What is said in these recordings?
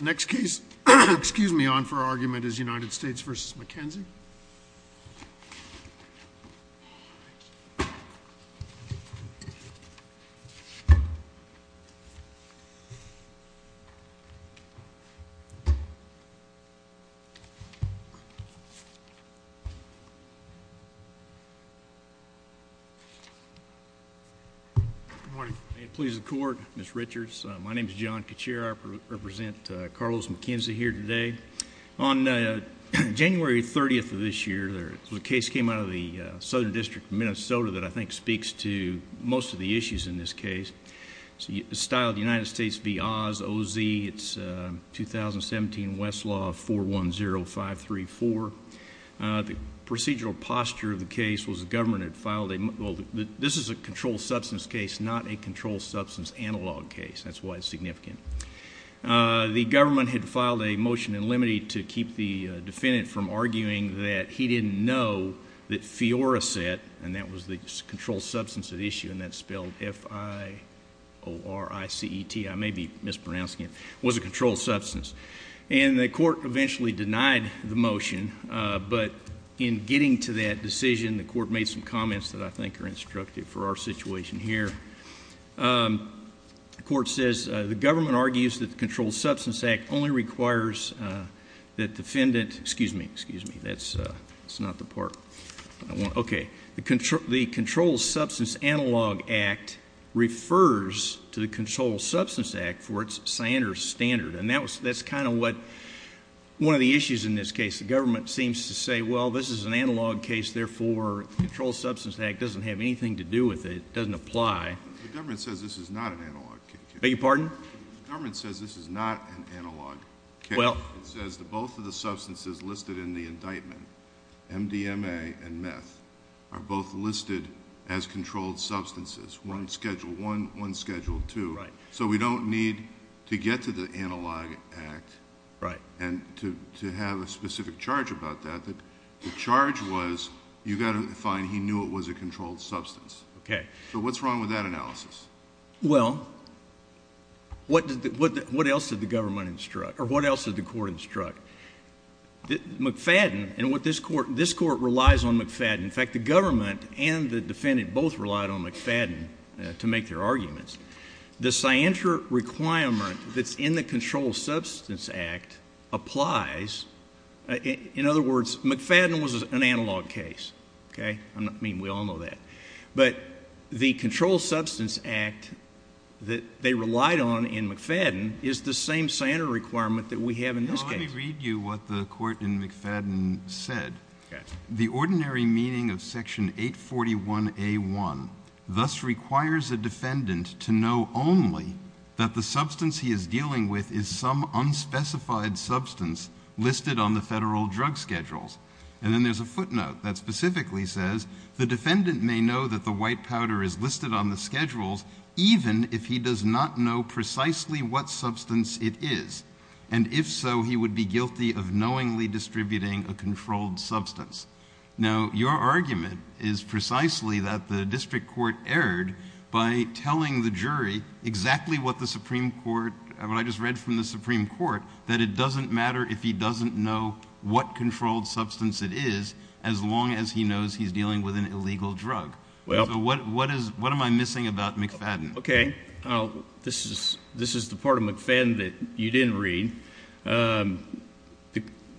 Next case, excuse me, on for argument is United States v. McKenzie. Good morning. May it please the Court, Mr. Richards. My name is John Kucera. I represent Carlos McKenzie here today. On January 30th of this year, a case came out of the Southern District of Minnesota that I think speaks to most of the issues in this case. It's styled United States v. Oz, O-Z. It's 2017 Westlaw 410534. The procedural posture of the case was the government had filed... This is a controlled substance case, not a controlled substance analog case. That's why it's significant. The government had filed a motion in limine to keep the defendant from arguing that he didn't know that Fioraset... And, that was the controlled substance at issue and that's spelled F-I-O-R-I-C-E-T. I may be mispronouncing it. It was a controlled substance. And, the court eventually denied the motion. But, in getting to that decision, the court made some comments that I think are instructive for our situation here. The court says, the government argues that the Controlled Substance Act only requires that defendant... Excuse me, excuse me. That's not the part I want. Okay. The Controlled Substance Analog Act refers to the Controlled Substance Act for its standard. And, that's kind of what one of the issues in this case. The government seems to say, well, this is an analog case. Therefore, the Controlled Substance Act doesn't have anything to do with it. It doesn't apply. The government says this is not an analog case. Beg your pardon? The government says this is not an analog case. Well... It says that both of the substances listed in the indictment, MDMA and meth, are both listed as controlled substances. One scheduled one, one scheduled two. Right. So, we don't need to get to the Analog Act. Right. And, to have a specific charge about that. The charge was, you've got to find he knew it was a controlled substance. Okay. So, what's wrong with that analysis? Well, what else did the government instruct, or what else did the court instruct? McFadden, and what this court, this court relies on McFadden. In fact, the government and the defendant both relied on McFadden to make their arguments. The scienter requirement that's in the Controlled Substance Act applies. In other words, McFadden was an analog case. Okay. I mean, we all know that. But, the Controlled Substance Act that they relied on in McFadden is the same scienter requirement that we have in this case. Let me read you what the court in McFadden said. Okay. The ordinary meaning of Section 841A1 thus requires a defendant to know only that the substance he is dealing with is some unspecified substance listed on the federal drug schedules. And then there's a footnote that specifically says, the defendant may know that the white powder is listed on the schedules even if he does not know precisely what substance it is. And if so, he would be guilty of knowingly distributing a controlled substance. Now, your argument is precisely that the district court erred by telling the jury exactly what the Supreme Court, what I just read from the Supreme Court, that it doesn't matter if he doesn't know what controlled substance it is as long as he knows he's dealing with an illegal drug. So, what am I missing about McFadden? Okay. This is the part of McFadden that you didn't read.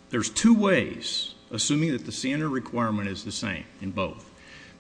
There's two ways, assuming that the standard requirement is the same in both,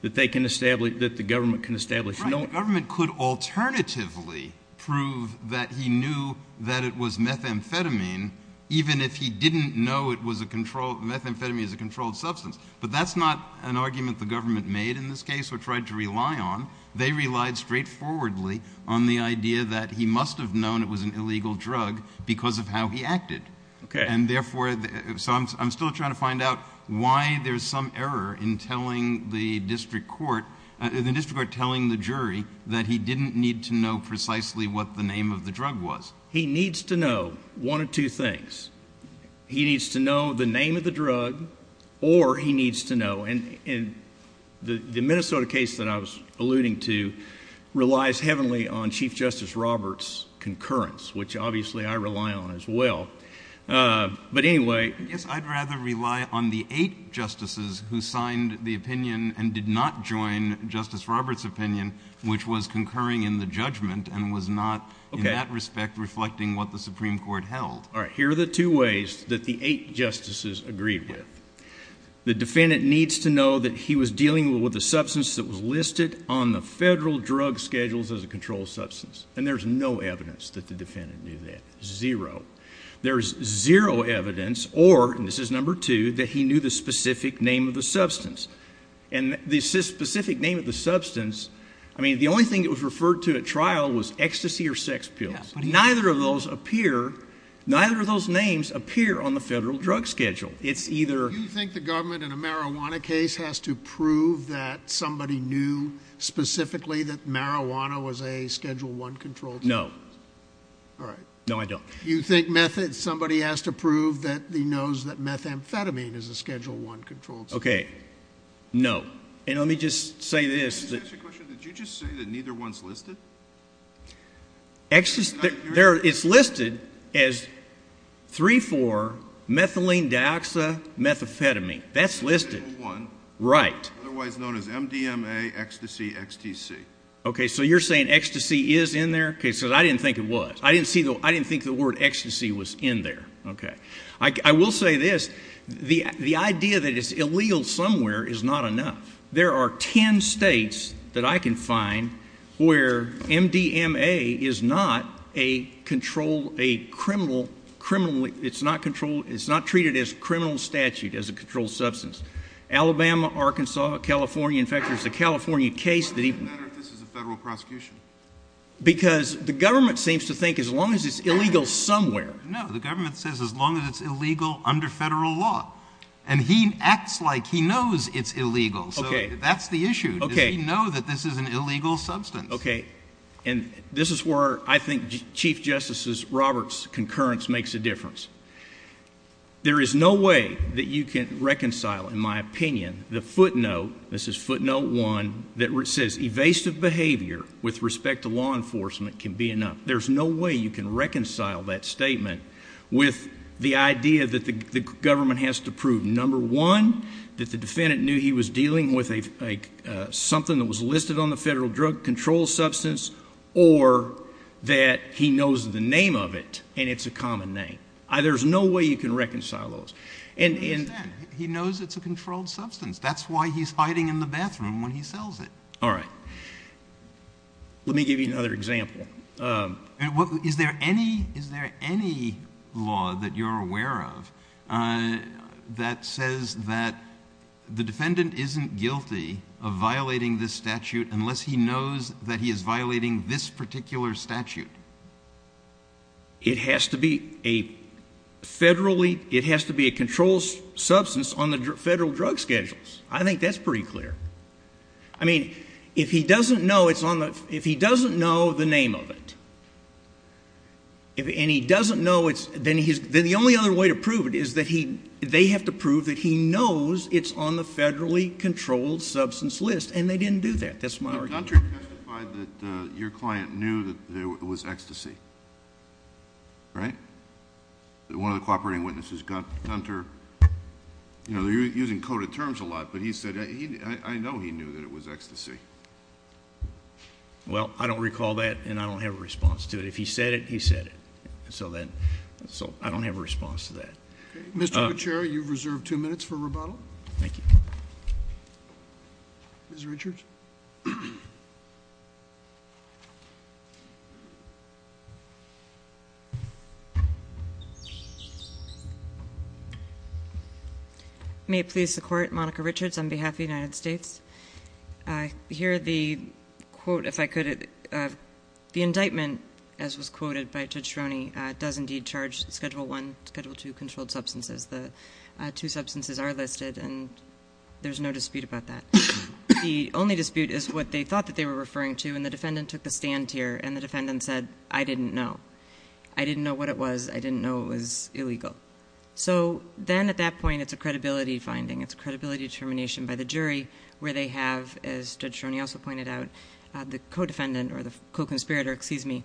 that they can establish, that the government can establish. Right. The government could alternatively prove that he knew that it was methamphetamine even if he didn't know it was a controlled, methamphetamine is a controlled substance. But that's not an argument the government made in this case or tried to rely on. They relied straightforwardly on the idea that he must have known it was an illegal drug because of how he acted. Okay. And therefore, so I'm still trying to find out why there's some error in telling the district court, the district court telling the jury that he didn't need to know precisely what the name of the drug was. He needs to know one of two things. He needs to know the name of the drug or he needs to know, and the Minnesota case that I was alluding to relies heavenly on Chief Justice Roberts' concurrence, which obviously I rely on as well. But anyway. I guess I'd rather rely on the eight justices who signed the opinion and did not join Justice Roberts' opinion, which was concurring in the judgment and was not in that respect reflecting what the Supreme Court held. All right. Here are the two ways that the eight justices agreed with. The defendant needs to know that he was dealing with a substance that was listed on the federal drug schedules as a controlled substance. And there's no evidence that the defendant knew that. Zero. There's zero evidence or, and this is number two, that he knew the specific name of the substance. And the specific name of the substance, I mean, the only thing it was referred to at trial was ecstasy or sex pills. Neither of those appear, neither of those names appear on the federal drug schedule. It's either. Do you think the government in a marijuana case has to prove that somebody knew specifically that marijuana was a Schedule I controlled substance? No. All right. No, I don't. Do you think somebody has to prove that he knows that methamphetamine is a Schedule I controlled substance? Okay. No. And let me just say this. Can I just ask you a question? Did you just say that neither one's listed? It's listed as 3-4-methylenedioxamethamphetamine. That's listed. Schedule I. Right. Otherwise known as MDMA ecstasy XTC. Okay. So you're saying ecstasy is in there? Okay. Because I didn't think it was. I didn't think the word ecstasy was in there. Okay. I will say this. The idea that it's illegal somewhere is not enough. There are 10 states that I can find where MDMA is not a controlled, a criminal, it's not treated as a criminal statute as a controlled substance. Alabama, Arkansas, California. In fact, there's a California case that even. Why would it matter if this is a federal prosecution? Because the government seems to think as long as it's illegal somewhere. No. The government says as long as it's illegal under federal law. And he acts like he knows it's illegal. So that's the issue. Does he know that this is an illegal substance? Okay. And this is where I think Chief Justice Roberts' concurrence makes a difference. There is no way that you can reconcile, in my opinion, the footnote, this is footnote one, that says evasive behavior with respect to law enforcement can be enough. There's no way you can reconcile that statement with the idea that the government has to prove, number one, that the defendant knew he was dealing with something that was listed on the federal drug control substance, or that he knows the name of it and it's a common name. There's no way you can reconcile those. I understand. He knows it's a controlled substance. That's why he's hiding in the bathroom when he sells it. All right. Let me give you another example. Is there any law that you're aware of that says that the defendant isn't guilty of violating this statute unless he knows that he is violating this particular statute? It has to be a controlled substance on the federal drug schedules. I think that's pretty clear. I mean, if he doesn't know the name of it, and he doesn't know it, then the only other way to prove it is that they have to prove that he knows it's on the federally controlled substance list, and they didn't do that. That's my argument. Gunter testified that your client knew that there was ecstasy, right? One of the cooperating witnesses, Gunter, you know, they're using coded terms a lot, but he said, I know he knew that it was ecstasy. Well, I don't recall that, and I don't have a response to it. If he said it, he said it. So I don't have a response to that. Mr. Gutierrez, you've reserved two minutes for rebuttal. Thank you. Ms. Richards. May it please the Court? Monica Richards on behalf of the United States. Here, the quote, if I could, the indictment, as was quoted by Judge Stroney, does indeed charge Schedule I, Schedule II controlled substances. The two substances are listed, and there's no dispute about that. The only dispute is what they thought that they were referring to, and the defendant took the stand here, and the defendant said, I didn't know. I didn't know what it was. I didn't know it was illegal. So then at that point, it's a credibility finding. It's a credibility determination by the jury where they have, as Judge Stroney also pointed out, the co-defendant or the co-conspirator, excuse me,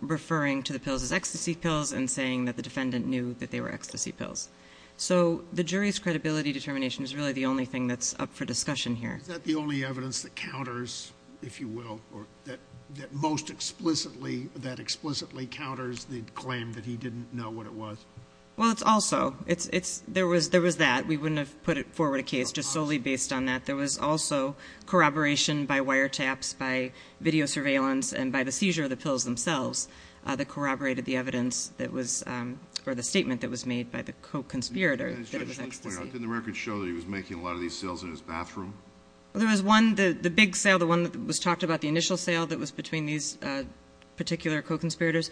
referring to the pills as ecstasy pills and saying that the defendant knew that they were ecstasy pills. So the jury's credibility determination is really the only thing that's up for discussion here. Is that the only evidence that counters, if you will, or that most explicitly, that explicitly counters the claim that he didn't know what it was? Well, it's also, there was that. We wouldn't have put forward a case just solely based on that. There was also corroboration by wiretaps, by video surveillance, and by the seizure of the pills themselves that corroborated the evidence that was, or the statement that was made by the co-conspirator. Didn't the records show that he was making a lot of these sales in his bathroom? There was one, the big sale, the one that was talked about, the initial sale that was between these particular co-conspirators,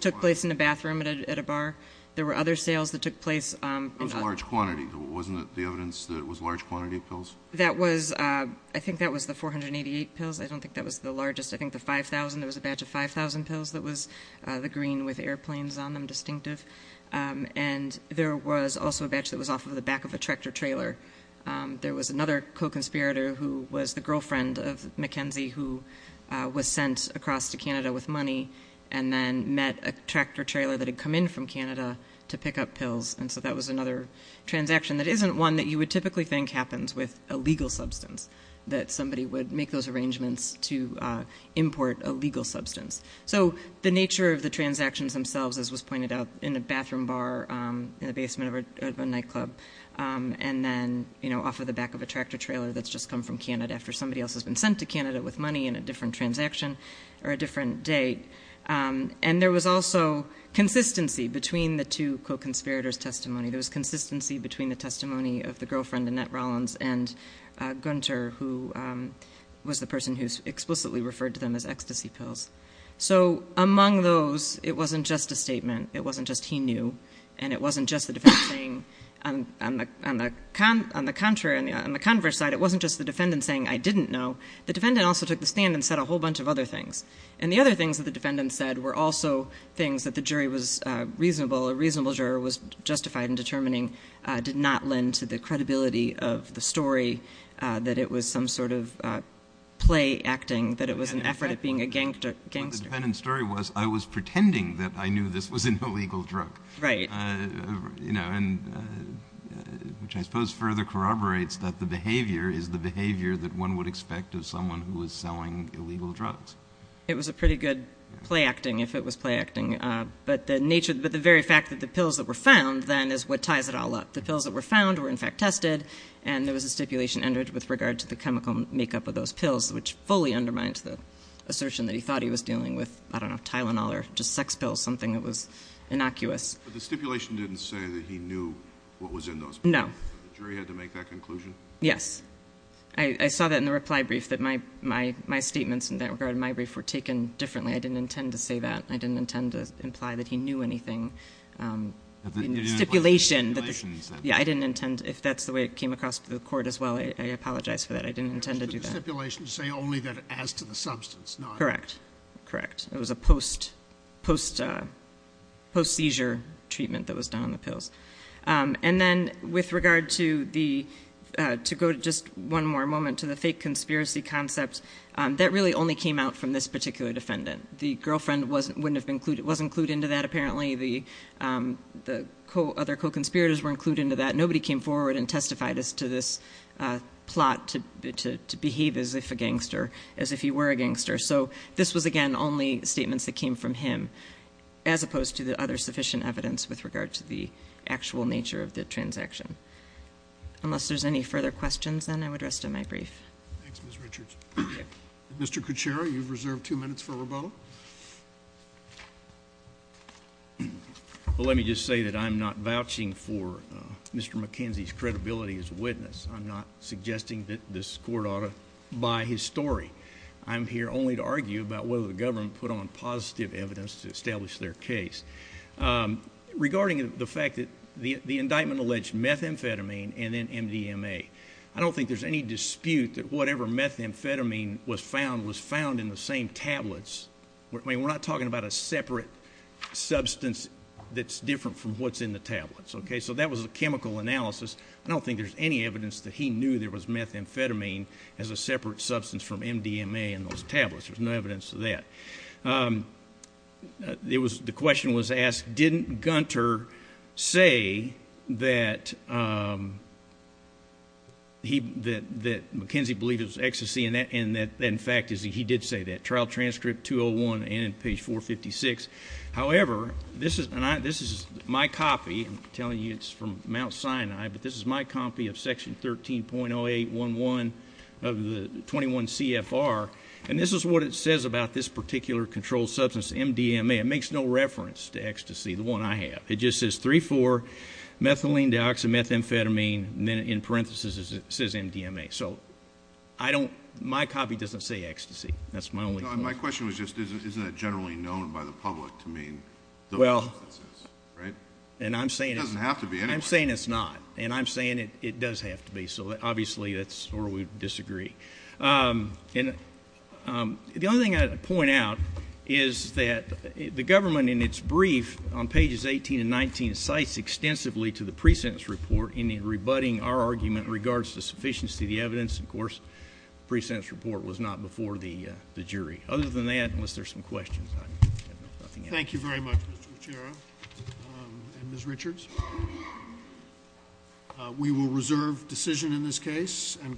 took place in a bathroom at a bar. There were other sales that took place. It was a large quantity. Wasn't it the evidence that it was a large quantity of pills? That was, I think that was the 488 pills. I don't think that was the largest. I think the 5,000, there was a batch of 5,000 pills that was the green with airplanes on them, distinctive. And there was also a batch that was off of the back of a tractor trailer. There was another co-conspirator who was the girlfriend of McKenzie who was sent across to Canada with money and then met a tractor trailer that had come in from Canada to pick up pills. And so that was another transaction that isn't one that you would typically think happens with a legal substance, that somebody would make those arrangements to import a legal substance. So the nature of the transactions themselves, as was pointed out, in a bathroom bar, in the basement of a nightclub, and then off of the back of a tractor trailer that's just come from Canada after somebody else has been sent to Canada with money and a different transaction or a different date. And there was also consistency between the two co-conspirators' testimony. There was consistency between the testimony of the girlfriend, Annette Rollins, and Gunter, who was the person who explicitly referred to them as ecstasy pills. So among those, it wasn't just a statement. It wasn't just he knew, and it wasn't just the defendant saying, on the contrary, on the converse side, it wasn't just the defendant saying, I didn't know. The defendant also took the stand and said a whole bunch of other things. And the other things that the defendant said were also things that the jury was reasonable, a reasonable juror was justified in determining did not lend to the credibility of the story, that it was some sort of play acting, that it was an effort at being a gangster. But the defendant's story was, I was pretending that I knew this was an illegal drug. Right. You know, and which I suppose further corroborates that the behavior is the behavior that one would expect of someone who was selling illegal drugs. It was a pretty good play acting, if it was play acting. But the nature, but the very fact that the pills that were found then is what ties it all up. The pills that were found were, in fact, tested, and there was a stipulation entered with regard to the chemical makeup of those pills, which fully undermined the assertion that he thought he was dealing with, I don't know, Tylenol or just sex pills, something that was innocuous. But the stipulation didn't say that he knew what was in those pills. No. The jury had to make that conclusion? Yes. I saw that in the reply brief, that my statements in that regard in my brief were taken differently. I didn't intend to say that. I didn't intend to imply that he knew anything in the stipulation. Yeah, I didn't intend, if that's the way it came across to the court as well, I apologize for that. I didn't intend to do that. The stipulation say only that as to the substance, not? Correct. Correct. It was a post-seizure treatment that was done on the pills. And then with regard to the, to go to just one more moment to the fake conspiracy concept, that really only came out from this particular defendant. The girlfriend wasn't clued into that, apparently. The other co-conspirators weren't clued into that. Nobody came forward and testified as to this plot to behave as if a gangster, as if he were a gangster. So this was, again, only statements that came from him, as opposed to the other sufficient evidence with regard to the actual nature of the transaction. Unless there's any further questions, then I would rest on my brief. Thanks, Ms. Richards. Thank you. Mr. Kucera, you've reserved two minutes for rebuttal. Well, let me just say that I'm not vouching for Mr. McKenzie's credibility as a witness. I'm not suggesting that this court ought to buy his story. I'm here only to argue about whether the government put on positive evidence to establish their case. Regarding the fact that the indictment alleged methamphetamine and then MDMA, I don't think there's any dispute that whatever methamphetamine was found was found in the same tablets. I mean, we're not talking about a separate substance that's different from what's in the tablets, okay? So that was a chemical analysis. I don't think there's any evidence that he knew there was methamphetamine as a separate substance from MDMA in those tablets. There's no evidence of that. The question was asked, didn't Gunter say that McKenzie believed it was ecstasy and that, in fact, he did say that, trial transcript 201 and page 456. However, this is my copy. I'm telling you it's from Mount Sinai, but this is my copy of section 13.0811 of the 21 CFR, and this is what it says about this particular controlled substance, MDMA. It makes no reference to ecstasy, the one I have. It just says 3,4-methylenedioxymethamphetamine, and then in parentheses it says MDMA. So my copy doesn't say ecstasy. My question was just isn't that generally known by the public to mean those substances, right? It doesn't have to be anyway. I'm saying it's not, and I'm saying it does have to be. So, obviously, that's where we disagree. The only thing I'd point out is that the government, in its brief on pages 18 and 19, cites extensively to the pre-sentence report in rebutting our argument in regards to sufficiency of the evidence. Of course, the pre-sentence report was not before the jury. Other than that, unless there's some questions, I have nothing else. Thank you very much, Mr. Lucero and Ms. Richards. We will reserve decision in this case and call the hearing.